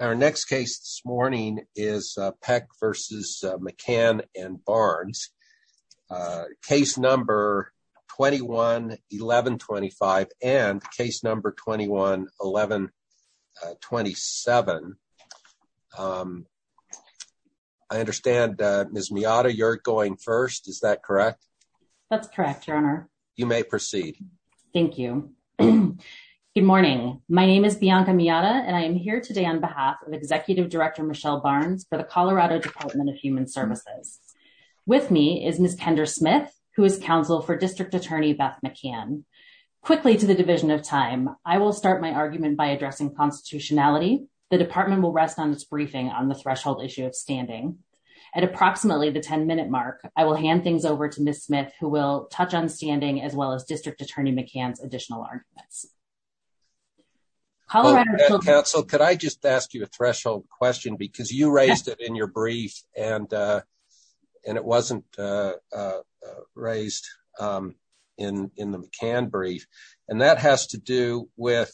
Our next case this morning is Peck v. McCann and Barnes, case number 21-1125 and case number 21-1127. I understand, Ms. Miata, you're going first, is that correct? That's correct, your honor. You may proceed. Thank you. Good morning. My name is Bianca Miata, and I am here today on behalf of Executive Director Michelle Barnes for the Colorado Department of Human Services. With me is Ms. Kendra Smith, who is counsel for District Attorney Beth McCann. Quickly to the division of time, I will start my argument by addressing constitutionality. The department will rest on its briefing on the threshold issue of standing. At approximately the 10-minute mark, I will hand things over to Ms. Smith, who will touch on standing as well as District Attorney McCann's additional arguments. Hello, counsel. Could I just ask you a threshold question? Because you raised it in your brief, and it wasn't raised in the McCann brief, and that has to do with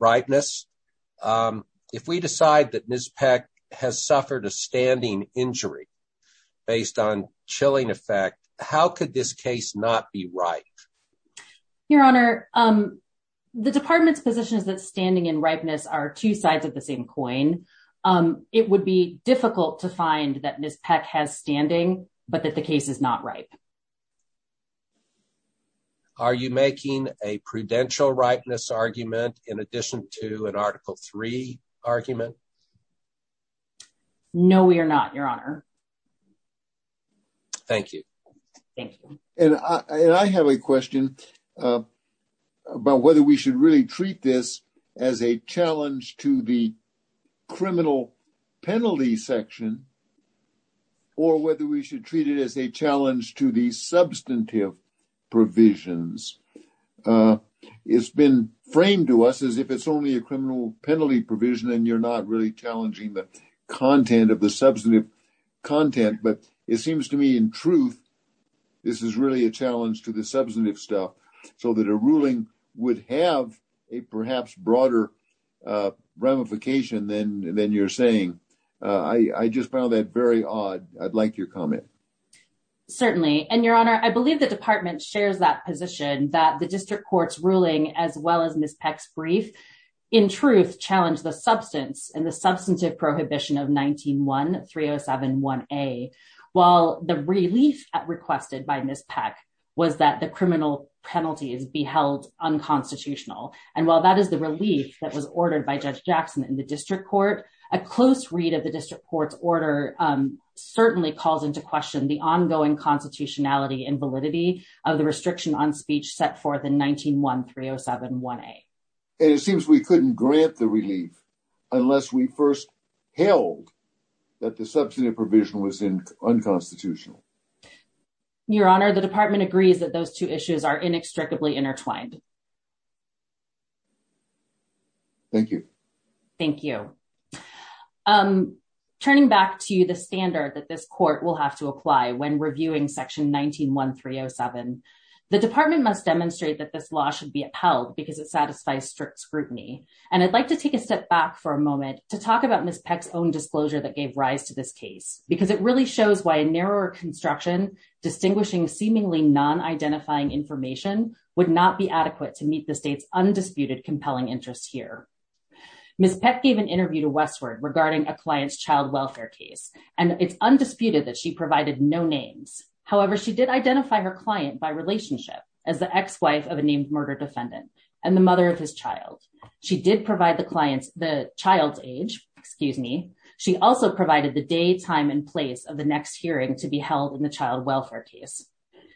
rightness. If we decide that Ms. Peck has suffered a standing injury based on chilling effect, how could this case not be right? Your honor, the department's position is that standing and rightness are two sides of the same coin. It would be difficult to find that Ms. Peck has standing, but that the case is not right. Are you making a prudential rightness argument in addition to an Article 3 argument? No, we are not, your honor. Thank you. Thank you. I have a question about whether we should really treat this as a challenge to the criminal penalty section, or whether we should treat it as a challenge to the substantive provisions. It's been framed to us as if it's only a criminal penalty provision, and you're not really challenging the content of the substantive content. It seems to me, in truth, this is really a challenge to the substantive stuff, so that a ruling would have a perhaps broader ramification than you're saying. I just found that very odd. I'd like your comment. Certainly. Your honor, I believe the department shares that position that the district court's ruling, as well as Ms. Peck's brief, in truth challenge the substance and the While the relief requested by Ms. Peck was that the criminal penalty is beheld unconstitutional, and while that is the relief that was ordered by Judge Jackson in the district court, a close read of the district court's order certainly calls into question the ongoing constitutionality and validity of the restriction on speech set forth in 19-1-307-1A. It seems we couldn't grant the relief unless we first held that the substantive provision was in unconstitutional. Your honor, the department agrees that those two issues are inextricably intertwined. Thank you. Thank you. Turning back to the standard that this court will have to apply when reviewing section 19-1-307, the department must demonstrate that this law should be upheld because it satisfies strict scrutiny, and I'd like to take a step back for a moment to talk about Ms. Peck's own disclosure that gave rise to this case, because it really shows why a narrower construction distinguishing seemingly non-identifying information would not be adequate to meet the state's undisputed compelling interests here. Ms. Peck gave an interview to Westward regarding a client's child welfare case, and it's undisputed that she provided no names. However, she did identify her client by relationship as the ex-wife of a named murder defendant and the mother of his child. She also provided the day, time, and place of the next hearing to be held in the child welfare case.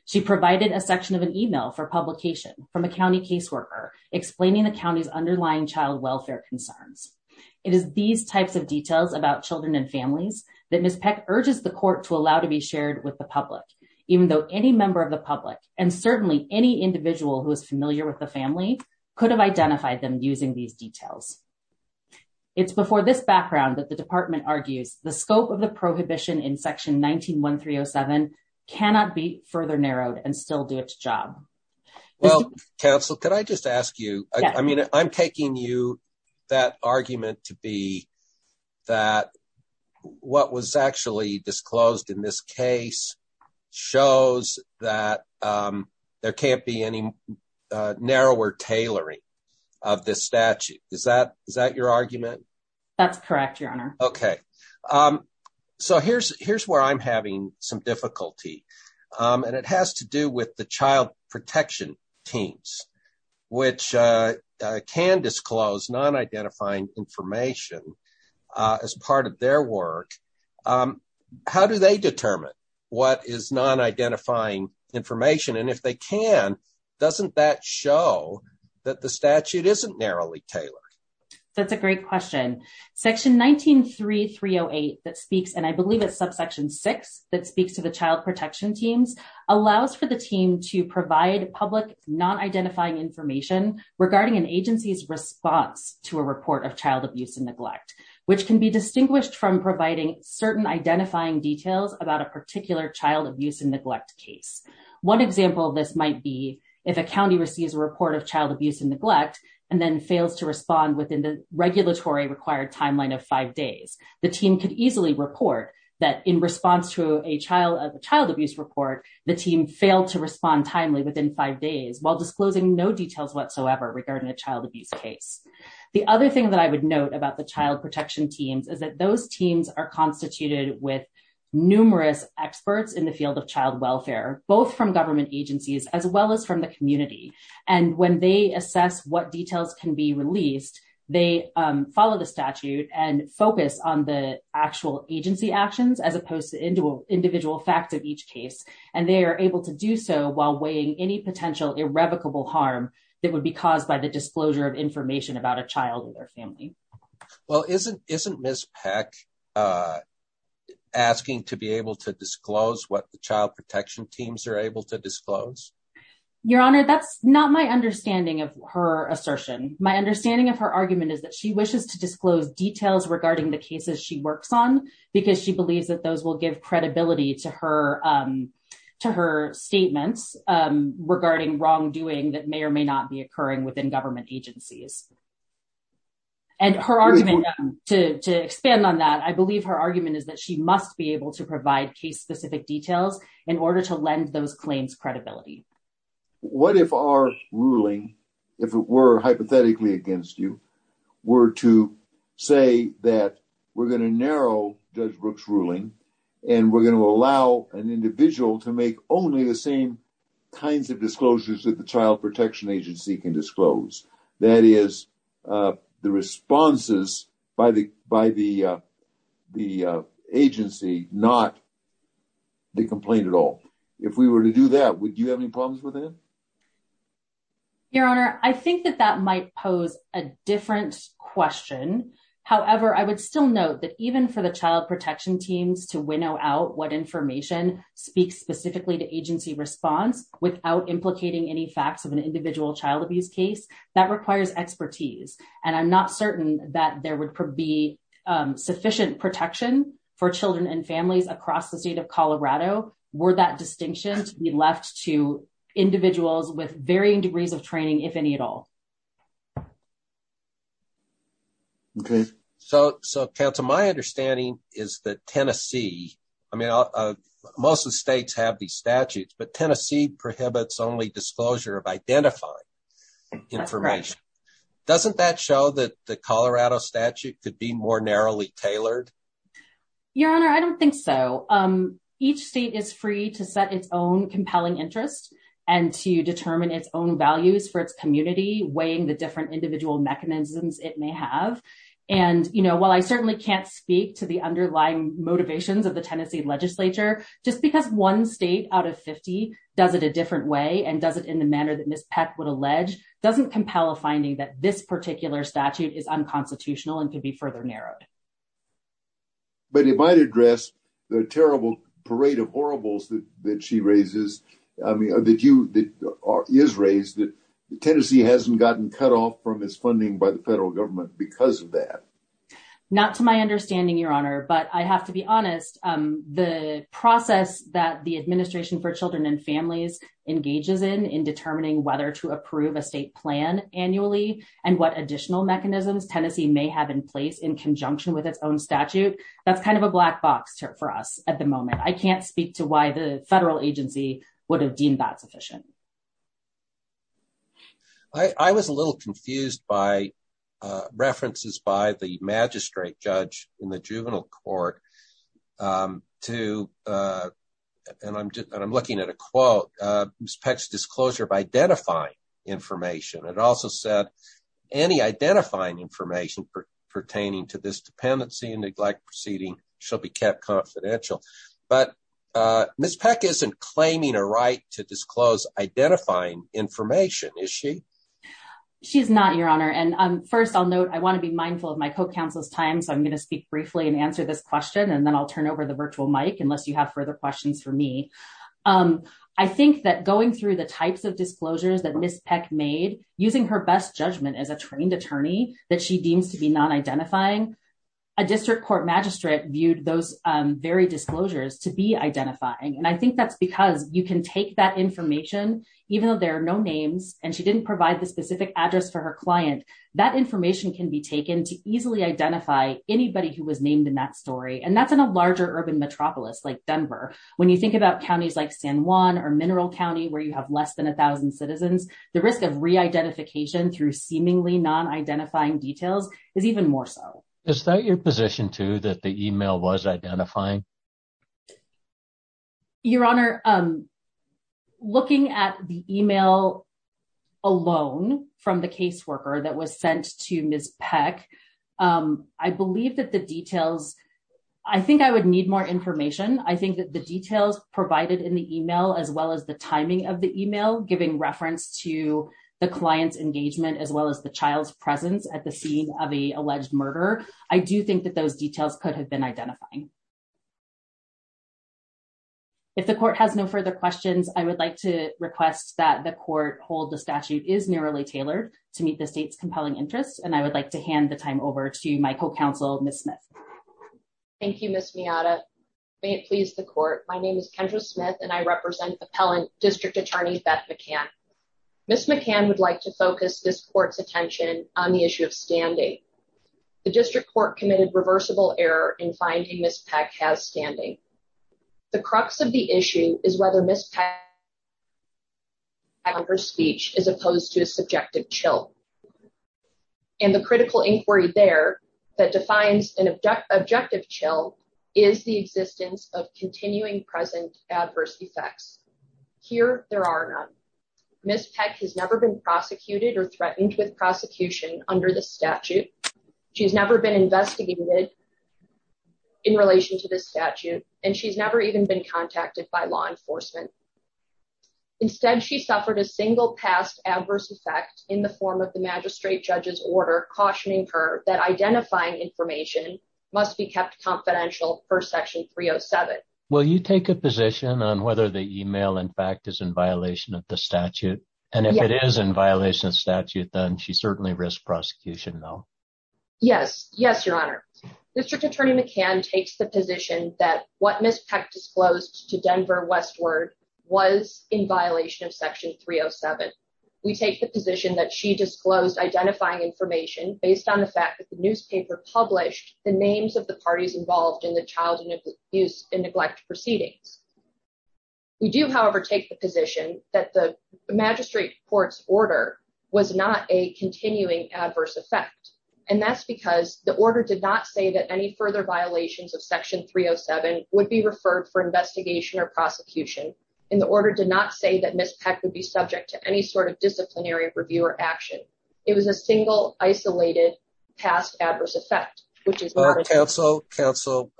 She provided a section of an email for publication from a county caseworker explaining the county's underlying child welfare concerns. It is these types of details about children and families that Ms. Peck urges the court to allow to be shared with the public, even though any member of the public, and certainly any individual who is familiar with the family, could have department argues the scope of the prohibition in section 19-1307 cannot be further narrowed and still do its job. Well, counsel, could I just ask you, I mean, I'm taking you that argument to be that what was actually disclosed in this case shows that there can't be any narrower tailoring of this statute. Is that your argument? That's correct, your honor. Okay, so here's where I'm having some difficulty, and it has to do with the child protection teams, which can disclose non-identifying information as part of their work. How do they determine what is non-identifying information, and if they can, doesn't that show that the statute isn't narrowly tailored? That's a great question. Section 19-3308 that speaks, and I believe it's subsection 6, that speaks to the child protection teams, allows for the team to provide public non-identifying information regarding an agency's response to a report of child abuse and neglect, which can be distinguished from providing certain identifying details about a particular child abuse neglect case. One example of this might be if a county receives a report of child abuse and neglect and then fails to respond within the regulatory required timeline of five days, the team could easily report that in response to a child abuse report, the team failed to respond timely within five days while disclosing no details whatsoever regarding a child abuse case. The other thing that I would note about the child protection teams is that those teams are both from government agencies as well as from the community, and when they assess what details can be released, they follow the statute and focus on the actual agency actions as opposed to individual facts of each case, and they are able to do so while weighing any potential irrevocable harm that would be caused by the disclosure of information about a child or their family. Well, isn't isn't Ms. Peck asking to be able to disclose what the child protection teams are able to disclose? Your honor, that's not my understanding of her assertion. My understanding of her argument is that she wishes to disclose details regarding the cases she works on because she believes that those will give credibility to her statements regarding wrongdoing that may or may not be And her argument, to expand on that, I believe her argument is that she must be able to provide case-specific details in order to lend those claims credibility. What if our ruling, if it were hypothetically against you, were to say that we're going to narrow Judge Brooks' ruling and we're going to allow an individual to make only the same kinds of disclosures that the child the responses by the agency, not the complaint at all? If we were to do that, would you have any problems with that? Your honor, I think that that might pose a different question. However, I would still note that even for the child protection teams to winnow out what information speaks specifically to agency response without implicating any facts of an individual child abuse case, that requires expertise. And I'm not certain that there would be sufficient protection for children and families across the state of Colorado were that distinction to be left to individuals with varying degrees of training, if any at all. Okay. So, counsel, my understanding is that Tennessee, I mean, most of the states have these statutes, but Tennessee prohibits only identifying information. Doesn't that show that the Colorado statute could be more narrowly tailored? Your honor, I don't think so. Each state is free to set its own compelling interest and to determine its own values for its community, weighing the different individual mechanisms it may have. And, you know, while I certainly can't speak to the underlying motivations of the Tennessee legislature, just because one state out of 50 does it a different way and does it in the manner that Ms. Peck would allege, doesn't compel a finding that this particular statute is unconstitutional and could be further narrowed. But it might address the terrible parade of horribles that she raises, I mean, that you, that is raised, that Tennessee hasn't gotten cut off from its funding by the federal government because of that. Not to my understanding, your honor, but I have to be honest, the process that the administration for children and families engages in, in determining whether to approve a state plan annually and what additional mechanisms Tennessee may have in place in conjunction with its own statute, that's kind of a black box for us at the moment. I can't speak to why the federal agency would have deemed that sufficient. I was a little confused by references by the magistrate judge in the juvenile court to, and I'm looking at a quote, Ms. Peck's disclosure of identifying information. It also said any identifying information pertaining to this dependency and neglect proceeding shall be kept confidential. But Ms. Peck isn't claiming a right to disclose identifying information, is she? She's not, your honor. And first I'll note, I want to be mindful of my co-counsel's time, so I'm going to speak briefly and answer this question, and then I'll turn over the virtual mic unless you have further questions for me. I think that going through the types of disclosures that Ms. Peck made, using her best judgment as a trained attorney that she deems to be non-identifying, a district court magistrate viewed those very disclosures to be identifying. And I think that's because you can take that information, even though there are no names and she didn't provide the specific address for her client, that information can be taken to easily identify anybody who was named in that story. And that's in a larger urban metropolis like Denver. When you think about counties like San Juan or Mineral County, where you have less than a thousand citizens, the risk of re-identification through seemingly non-identifying details is even more so. Is that your position too, that the email was sent to Ms. Peck? I think I would need more information. I think that the details provided in the email, as well as the timing of the email, giving reference to the client's engagement, as well as the child's presence at the scene of an alleged murder, I do think that those details could have been identifying. If the court has no further questions, I would like to request that the court hold the statute is narrowly tailored to meet the state's compelling interests. And I would like to hand the time over to my co-counsel, Ms. Smith. Thank you, Ms. Miyata. May it please the court. My name is Kendra Smith and I represent appellant district attorney, Beth McCann. Ms. McCann would like to focus this court's attention on the issue of standing. The district court committed reversible error in finding Ms. Peck has standing. The crux of the issue is whether Ms. Peck's speech is opposed to a subjective chill. And the critical inquiry there that defines an objective chill is the existence of continuing present adverse effects. Here, there are none. Ms. Peck has never been prosecuted or threatened with prosecution under the statute. She's never been investigated in relation to this statute and she's never even been contacted by law enforcement. Instead, she suffered a single past adverse effect in the form of the magistrate judge's order cautioning her that identifying information must be kept confidential per section 307. Will you take a position on whether the email, in fact, is in violation of the statute? And if it is in violation of statute, then she certainly risked prosecution though. Yes, yes, your honor. District attorney McCann takes the position that what Ms. Peck disclosed to Denver Westward was in violation of section 307. We take the position that she disclosed identifying information based on the fact that the newspaper published the names of the parties involved in the child abuse and neglect proceedings. We do, however, take the position that the magistrate court's order was not a continuing adverse effect and that's because the order did not say that any further violations of section 307 would be referred for investigation or prosecution and the order did not say that Ms. Peck would be subject to any sort of disciplinary review or action. It was a single isolated past adverse effect which is... Counsel, counsel,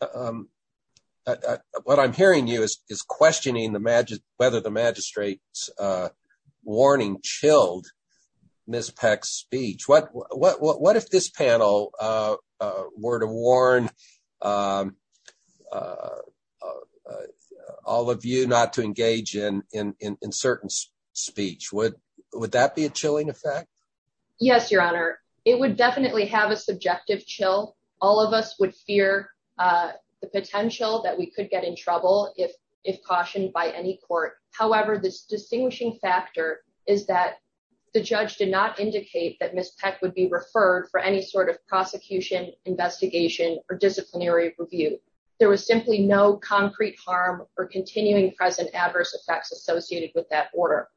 what I'm hearing you is questioning whether the magistrate's warning chilled Ms. Peck's speech. What if this panel were to warn all of you not to engage in certain speech? Would that be a chilling effect? Yes, your honor. It would definitely have a subjective chill. All of us would fear the if cautioned by any court. However, the distinguishing factor is that the judge did not indicate that Ms. Peck would be referred for any sort of prosecution investigation or disciplinary review. There was simply no concrete harm or continuing present adverse effects associated with that order.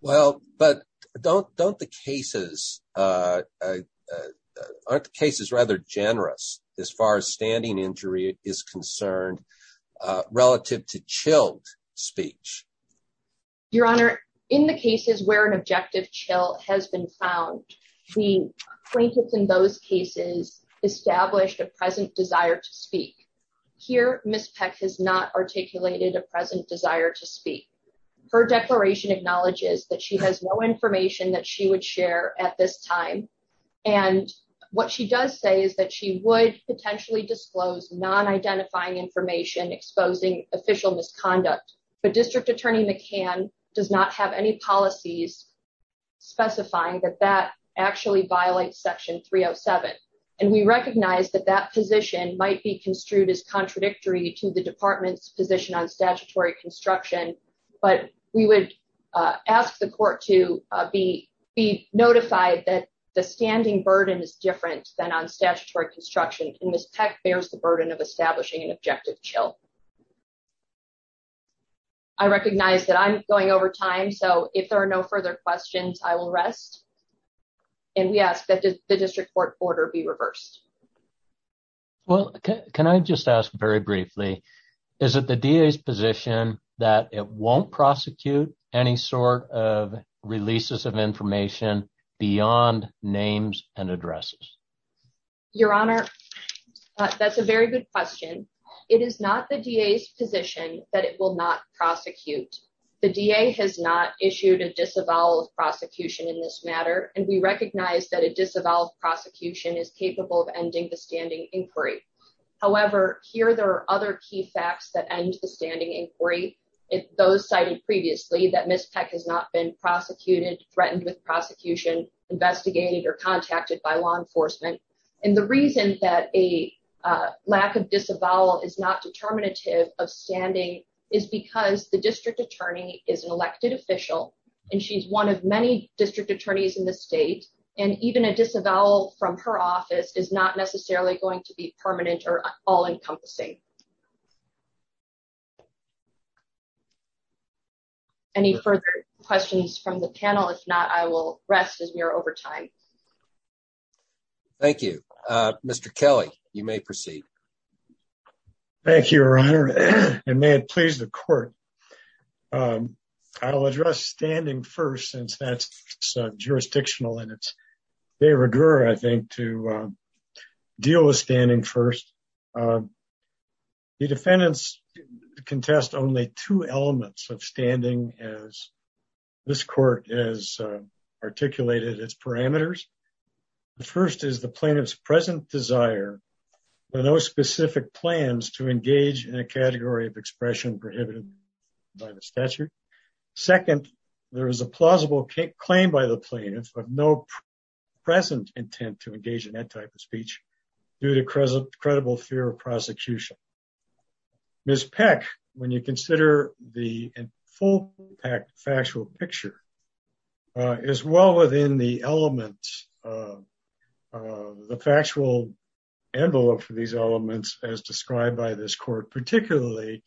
Well, but don't the cases... aren't the cases rather generous as far as standing injury is concerned relative to chilled speech? Your honor, in the cases where an objective chill has been found, the plaintiffs in those cases established a present desire to speak. Here, Ms. Peck has not articulated a present desire to speak. Her declaration acknowledges that she has no information that she would share at this time and what she does say is that she would potentially disclose non-identifying information exposing official misconduct. But District Attorney McCann does not have any policies specifying that that actually violates section 307. And we recognize that that position might be construed as contradictory to the department's position on statutory construction, but we would ask the court to be notified that the standing burden is non-statutory construction and Ms. Peck bears the burden of establishing an objective chill. I recognize that I'm going over time, so if there are no further questions, I will rest. And we ask that the district court order be reversed. Well, can I just ask very briefly, is it the DA's position that it won't prosecute any sort of releases of information beyond names and addresses? Your Honor, that's a very good question. It is not the DA's position that it will not prosecute. The DA has not issued a disavowal of prosecution in this matter and we recognize that a disavowal of prosecution is capable of ending the standing inquiry. However, here there are other key facts that end the standing inquiry. Those cited previously that Ms. Peck has not been prosecuted, threatened with prosecution, investigated, or contacted by law enforcement. And the reason that a lack of disavowal is not determinative of standing is because the district attorney is an elected official and she's one of many district attorneys in the state. And even a disavowal from her office is not necessarily going to be permanent or all-encompassing. Any further questions from the panel? If not, I will rest as we are over time. Thank you. Mr. Kelly, you may proceed. Thank you, Your Honor, and may it please the court. I'll address standing first since that's in its very rigour, I think, to deal with standing first. The defendants contest only two elements of standing as this court has articulated its parameters. The first is the plaintiff's present desire for no specific plans to engage in a category of expression prohibited by the statute. Second, there is a plausible claim by the plaintiff of no present intent to engage in that type of speech due to credible fear of prosecution. Ms. Peck, when you consider the full factual picture, is well within the elements of the factual envelope for these elements as described by this court, particularly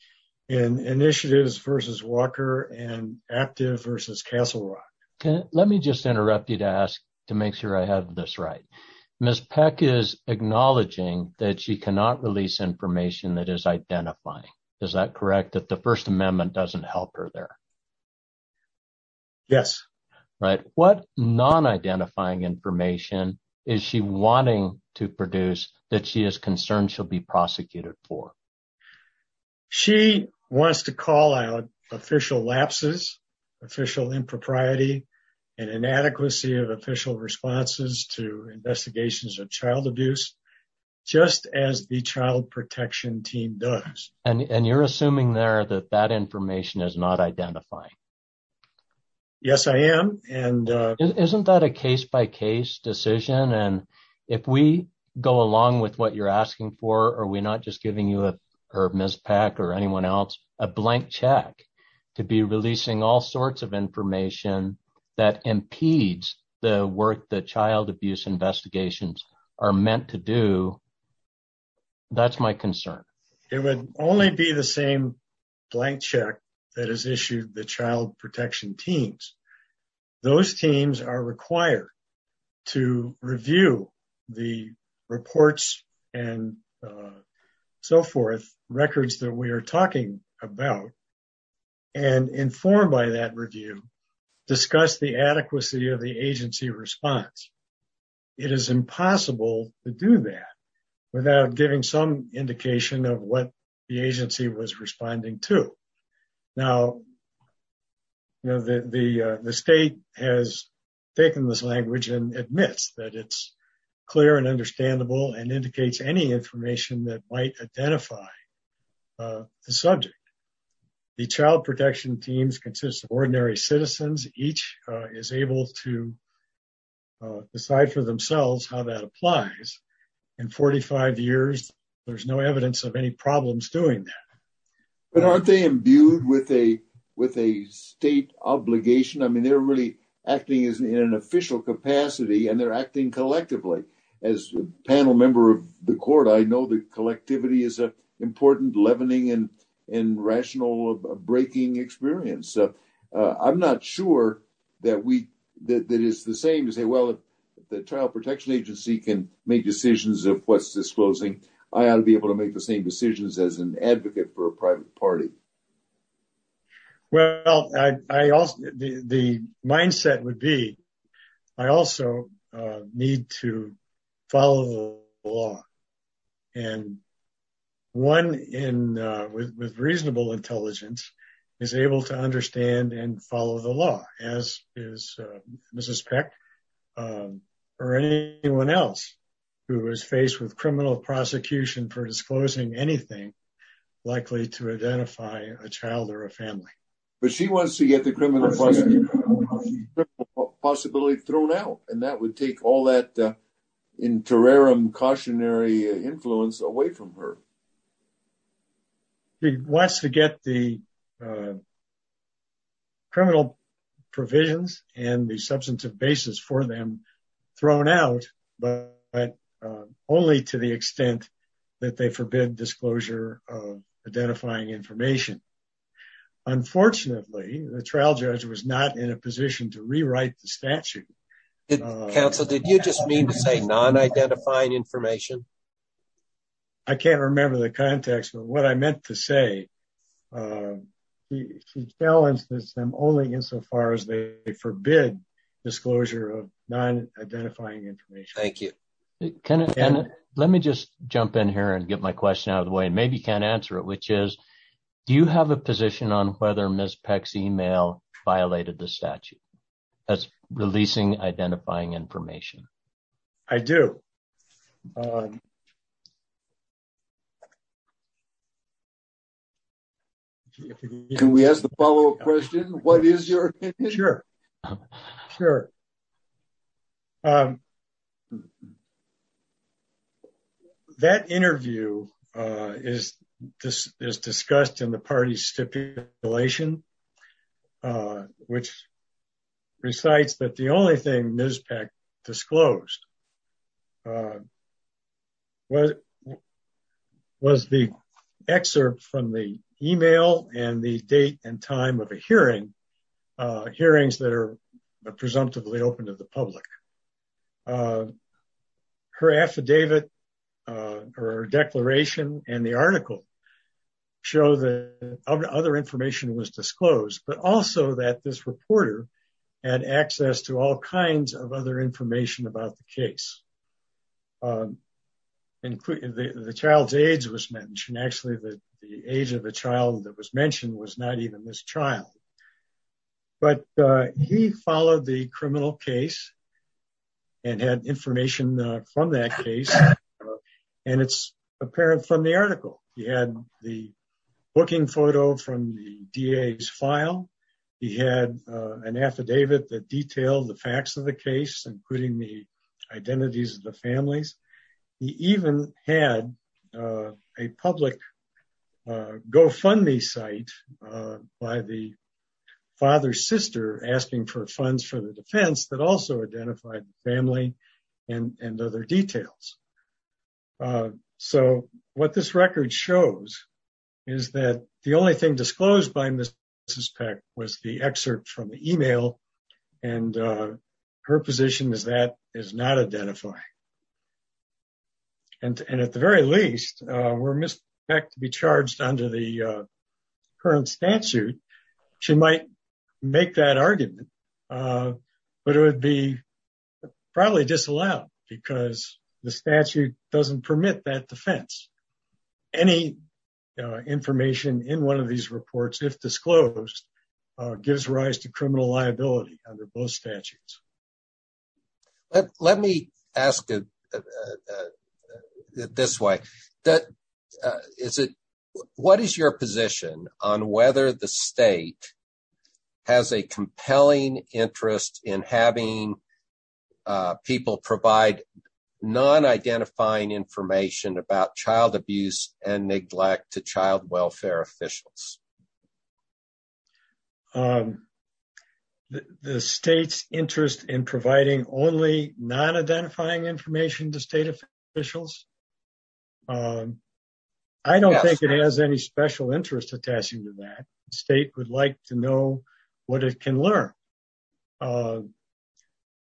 in Initiatives v. Walker and Active v. Castle Rock. Let me just interrupt you to ask to make sure I have this right. Ms. Peck is acknowledging that she cannot release information that is identifying. Is that correct, that the First Amendment doesn't help her there? Yes. Right. What non-identifying information is she wanting to produce that she is concerned she'll be prosecuted for? She wants to call out official lapses, official impropriety, and inadequacy of official responses to investigations of child abuse, just as the Child Protection Team does. And you're assuming there that that information is not identifying? Yes, I am. Isn't that a case-by-case decision? And if we go along with what you're asking for, are we not just giving you, or Ms. Peck or anyone else, a blank check to be releasing all sorts of information that impedes the work that child abuse investigations are meant to do? That's my concern. It would only be the same blank check that has issued the Child Protection Teams. Those teams are required to review the reports and so forth, records that we are talking about, and informed by that review, discuss the adequacy of the agency response. It is impossible to do that without giving some indication of what the agency was doing. The state has taken this language and admits that it's clear and understandable and indicates any information that might identify the subject. The Child Protection Teams consists of ordinary citizens. Each is able to decide for themselves how that applies. In 45 years, there's no evidence of any problems doing that. But aren't they imbued with a state obligation? I mean, they're really acting in an official capacity and they're acting collectively. As a panel member of the court, I know that collectivity is an important leavening and rational breaking experience. I'm not sure that it's the same to say, well, the Child Protection Agency can make decisions of what's disclosing. I ought to be able to make the same decisions as an advocate for a private party. Well, the mindset would be, I also need to follow the law. One with reasonable intelligence is able to understand and follow the law, as is Mrs. Peck or anyone else who is faced with criminal prosecution for disclosing anything likely to identify a child or a family. But she wants to get the criminal possibility thrown out and that would take all that cautionary influence away from her. He wants to get the criminal provisions and the substantive basis for them thrown out, but only to the extent that they forbid disclosure of identifying information. Unfortunately, the trial judge was not in a position to rewrite the statute. Counsel, did you just mean to say non-identifying information? I can't remember the context of what I meant to say. She challenged them only insofar as they forbid disclosure of non-identifying information. Let me just jump in here and get my question out of the way, and maybe you can answer it, which is, do you have a position on whether Ms. Peck's email violated the statute as releasing identifying information? I do. Can we ask the follow-up question? What is your opinion? Sure. That interview is discussed in the party stipulation, which recites that the only thing Ms. Peck disclosed was the excerpt from the email and the date and time of a hearing, hearings that are presumptively open to the public. Her affidavit or declaration and the article show that other information was disclosed, but also that this reporter had access to all kinds of other information about the case. The child's age was mentioned. Actually, the age of the child that was mentioned was not even this child. But he followed the criminal case and had information from that case. It's apparent from the article. He had the booking photo from the DA's file. He had an affidavit that detailed the facts of the case, including the identities of the families. He even had a public GoFundMe site by the father's sister asking for funds for the defense that also identified the family and other details. So, what this record shows is that the only thing disclosed by Ms. Peck was the excerpt from the email, and her position is that is not identifying. And at the very least, were Ms. Peck to be charged under the current statute, she might make that argument, but it would be probably disallowed because the statute doesn't permit that defense. Any information in one of these reports, if disclosed, gives rise to criminal liability under both statutes. Let me ask this way. What is your position on whether the state has a compelling interest in having people provide non-identifying information about child abuse and neglect to child welfare officials? The state's interest in providing only non-identifying information to state officials? I don't think it has any special interest attaching to that. The state would like to have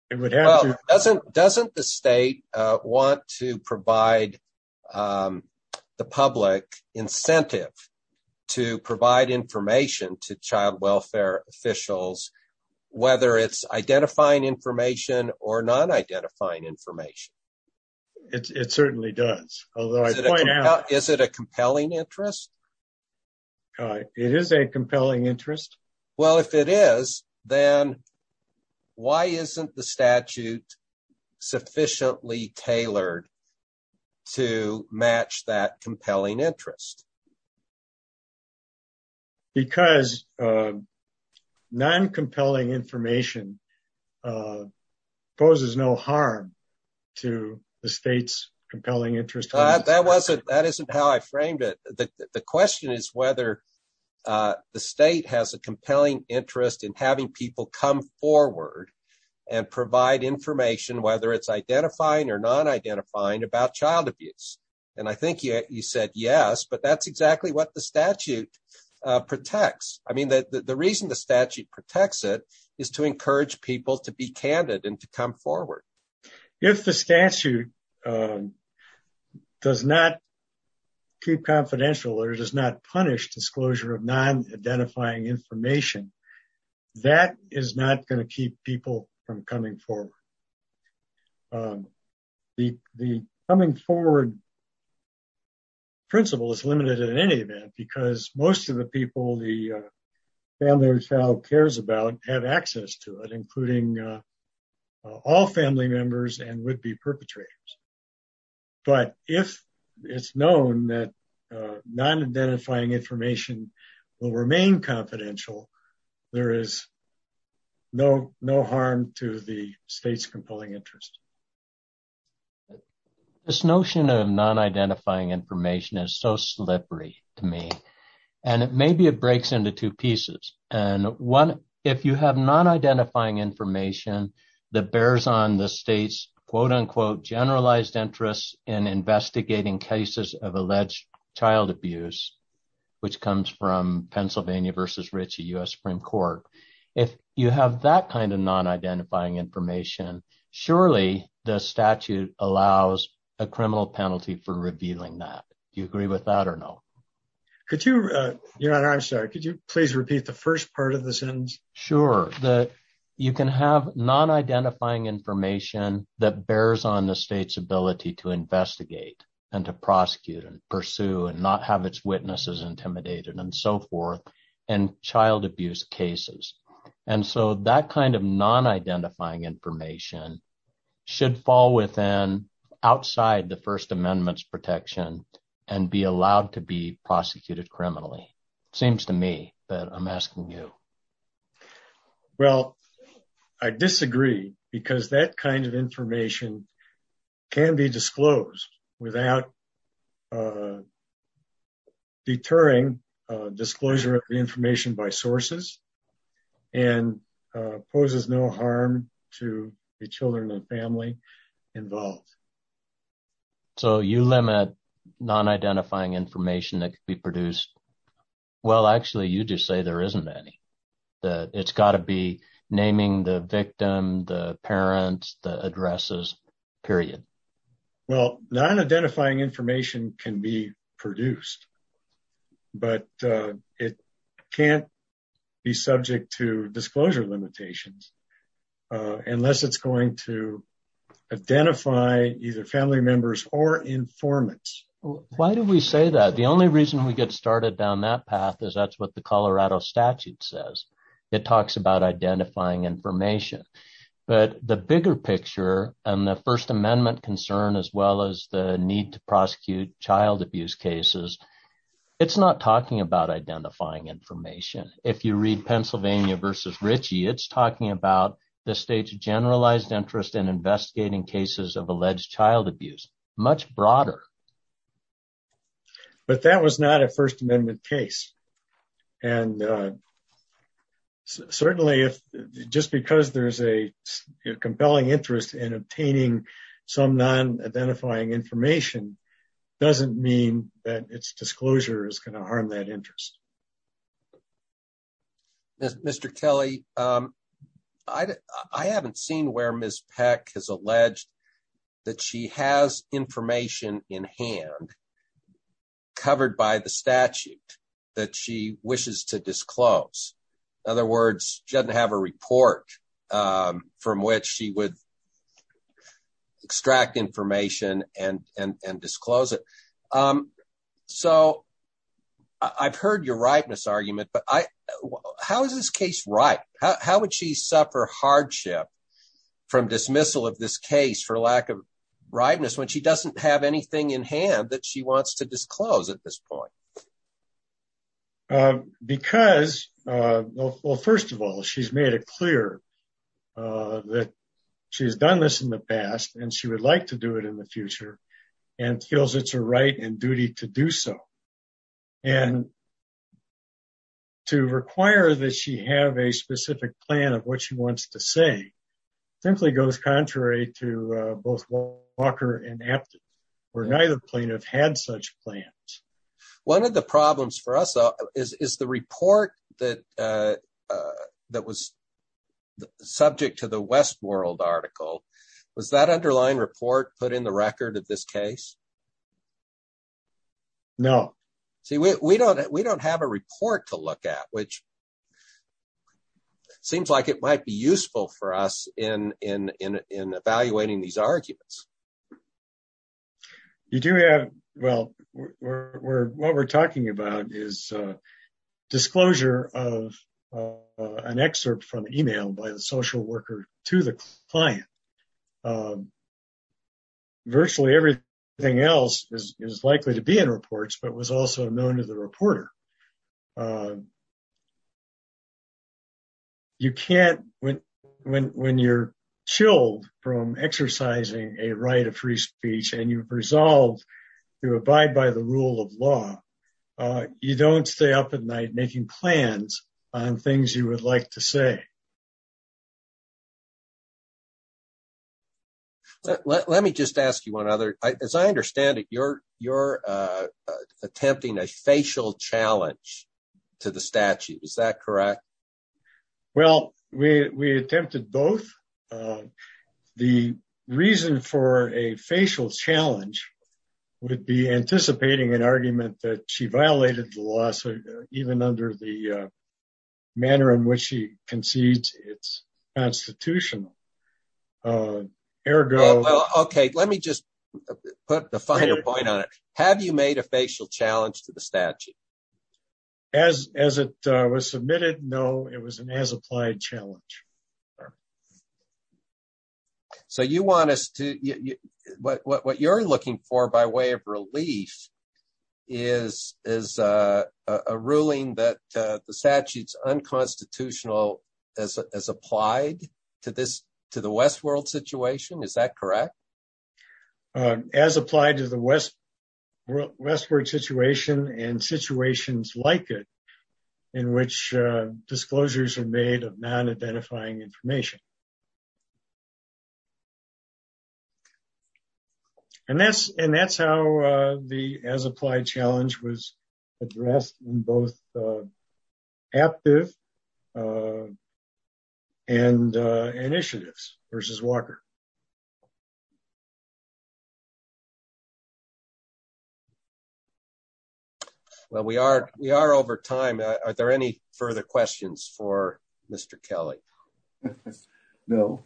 that. Doesn't the state want to provide the public incentive to provide information to child welfare officials, whether it's identifying information or non-identifying information? It certainly does. Is it a compelling interest? It is a compelling interest. Well, if it is, then why isn't the statute sufficiently tailored to match that compelling interest? Because non-compelling information poses no harm to the state's compelling interest. That isn't how I framed it. The question is whether the state has a compelling interest in having people come forward and provide information, whether it's identifying or non-identifying, about child abuse. I think you said yes, but that's exactly what the statute protects. The reason the statute protects it is to encourage people to be candid and to come forward. If the statute does not keep confidential or does not punish disclosure of non-identifying information, that is not going to keep people from coming forward. The coming forward principle is limited in any event because most of the people the family or child cares about have access to it, including all family members and would-be perpetrators. But if it's known that non-identifying information will remain confidential, there is no harm to the state's compelling interest. This notion of non-identifying information is so slippery to me, and maybe it breaks into two non-identifying information that bears on the state's quote-unquote generalized interest in investigating cases of alleged child abuse, which comes from Pennsylvania v. Ritchie U.S. Supreme Court. If you have that kind of non-identifying information, surely the statute allows a criminal penalty for revealing that. Do you agree with that or no? Could you please repeat the first part of the sentence? Sure, that you can have non-identifying information that bears on the state's ability to investigate and to prosecute and pursue and not have its witnesses intimidated and so forth in child abuse cases. And so that kind of non-identifying information should fall within, outside the First Amendment's protection, and be allowed to be prosecuted criminally. Seems to me that I'm asking you. Well, I disagree because that kind of information can be disclosed without deterring disclosure of the information by sources and poses no harm to the children and family involved. So, you limit non-identifying information that can be produced. Well, actually, you just say there isn't any. It's got to be naming the victim, the parents, the addresses, period. Well, non-identifying information can be produced, but it can't be subject to either family members or informants. Why do we say that? The only reason we get started down that path is that's what the Colorado statute says. It talks about identifying information. But the bigger picture and the First Amendment concern, as well as the need to prosecute child abuse cases, it's not talking about identifying information. If you read Pennsylvania v. Ritchie, it's talking about the state's generalized interest in investigating cases of alleged child abuse. Much broader. But that was not a First Amendment case. And certainly, just because there's a compelling interest in obtaining some non-identifying information doesn't mean that its disclosure is going to harm that interest. Mr. Kelly, I haven't seen where Ms. Peck has alleged that she has information in hand covered by the statute that she wishes to disclose. In other words, she doesn't have a report from which she would extract information and disclose it. So I've heard your ripeness argument, but how is this case ripe? How would she suffer hardship from dismissal of this case for lack of ripeness when she doesn't have anything in hand that she wants to disclose at this point? Well, first of all, she's made it clear that she's done this in the past and she would like to do it in the future and feels it's her right and duty to do so. And to require that she have a specific plan of what she wants to say simply goes contrary to both Walker and Apted, where the problems for us is the report that was subject to the Westworld article. Was that underlying report put in the record of this case? No. See, we don't have a report to look at, which seems like it might be useful for us in evaluating these arguments. You do have, well, what we're talking about is disclosure of an excerpt from email by the social worker to the client. Virtually everything else is likely to be in reports, but was also known to the reporter. When you're chilled from exercising a right of free speech and you've resolved to abide by the rule of law, you don't stay up at night making plans on things you would like to say. Let me just ask you one other. As I understand it, you're attempting a facial challenge to the statute. Is that correct? Well, we attempted both. The reason for a facial challenge would be anticipating an argument that she violated the law, even under the manner in which she concedes it's constitutional. Okay, let me just put the final point on it. Have you made a facial challenge to the statute? As it was submitted, no. It was an as-applied challenge. So, what you're looking for by way of relief is a ruling that the statute's unconstitutional as applied to the Westworld situation. Is that correct? As applied to the Westworld situation and situations like it in which disclosures are made of non-identifying information. That's how the as-applied challenge was addressed in both active and initiatives versus Walker. Well, we are over time. Are there any further questions for Mr. Kelly? No.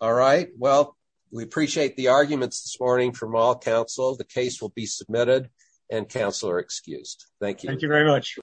All right. Well, we appreciate the arguments this morning from all counsel. The case will be submitted and counsel are excused. Thank you. Thank you very much.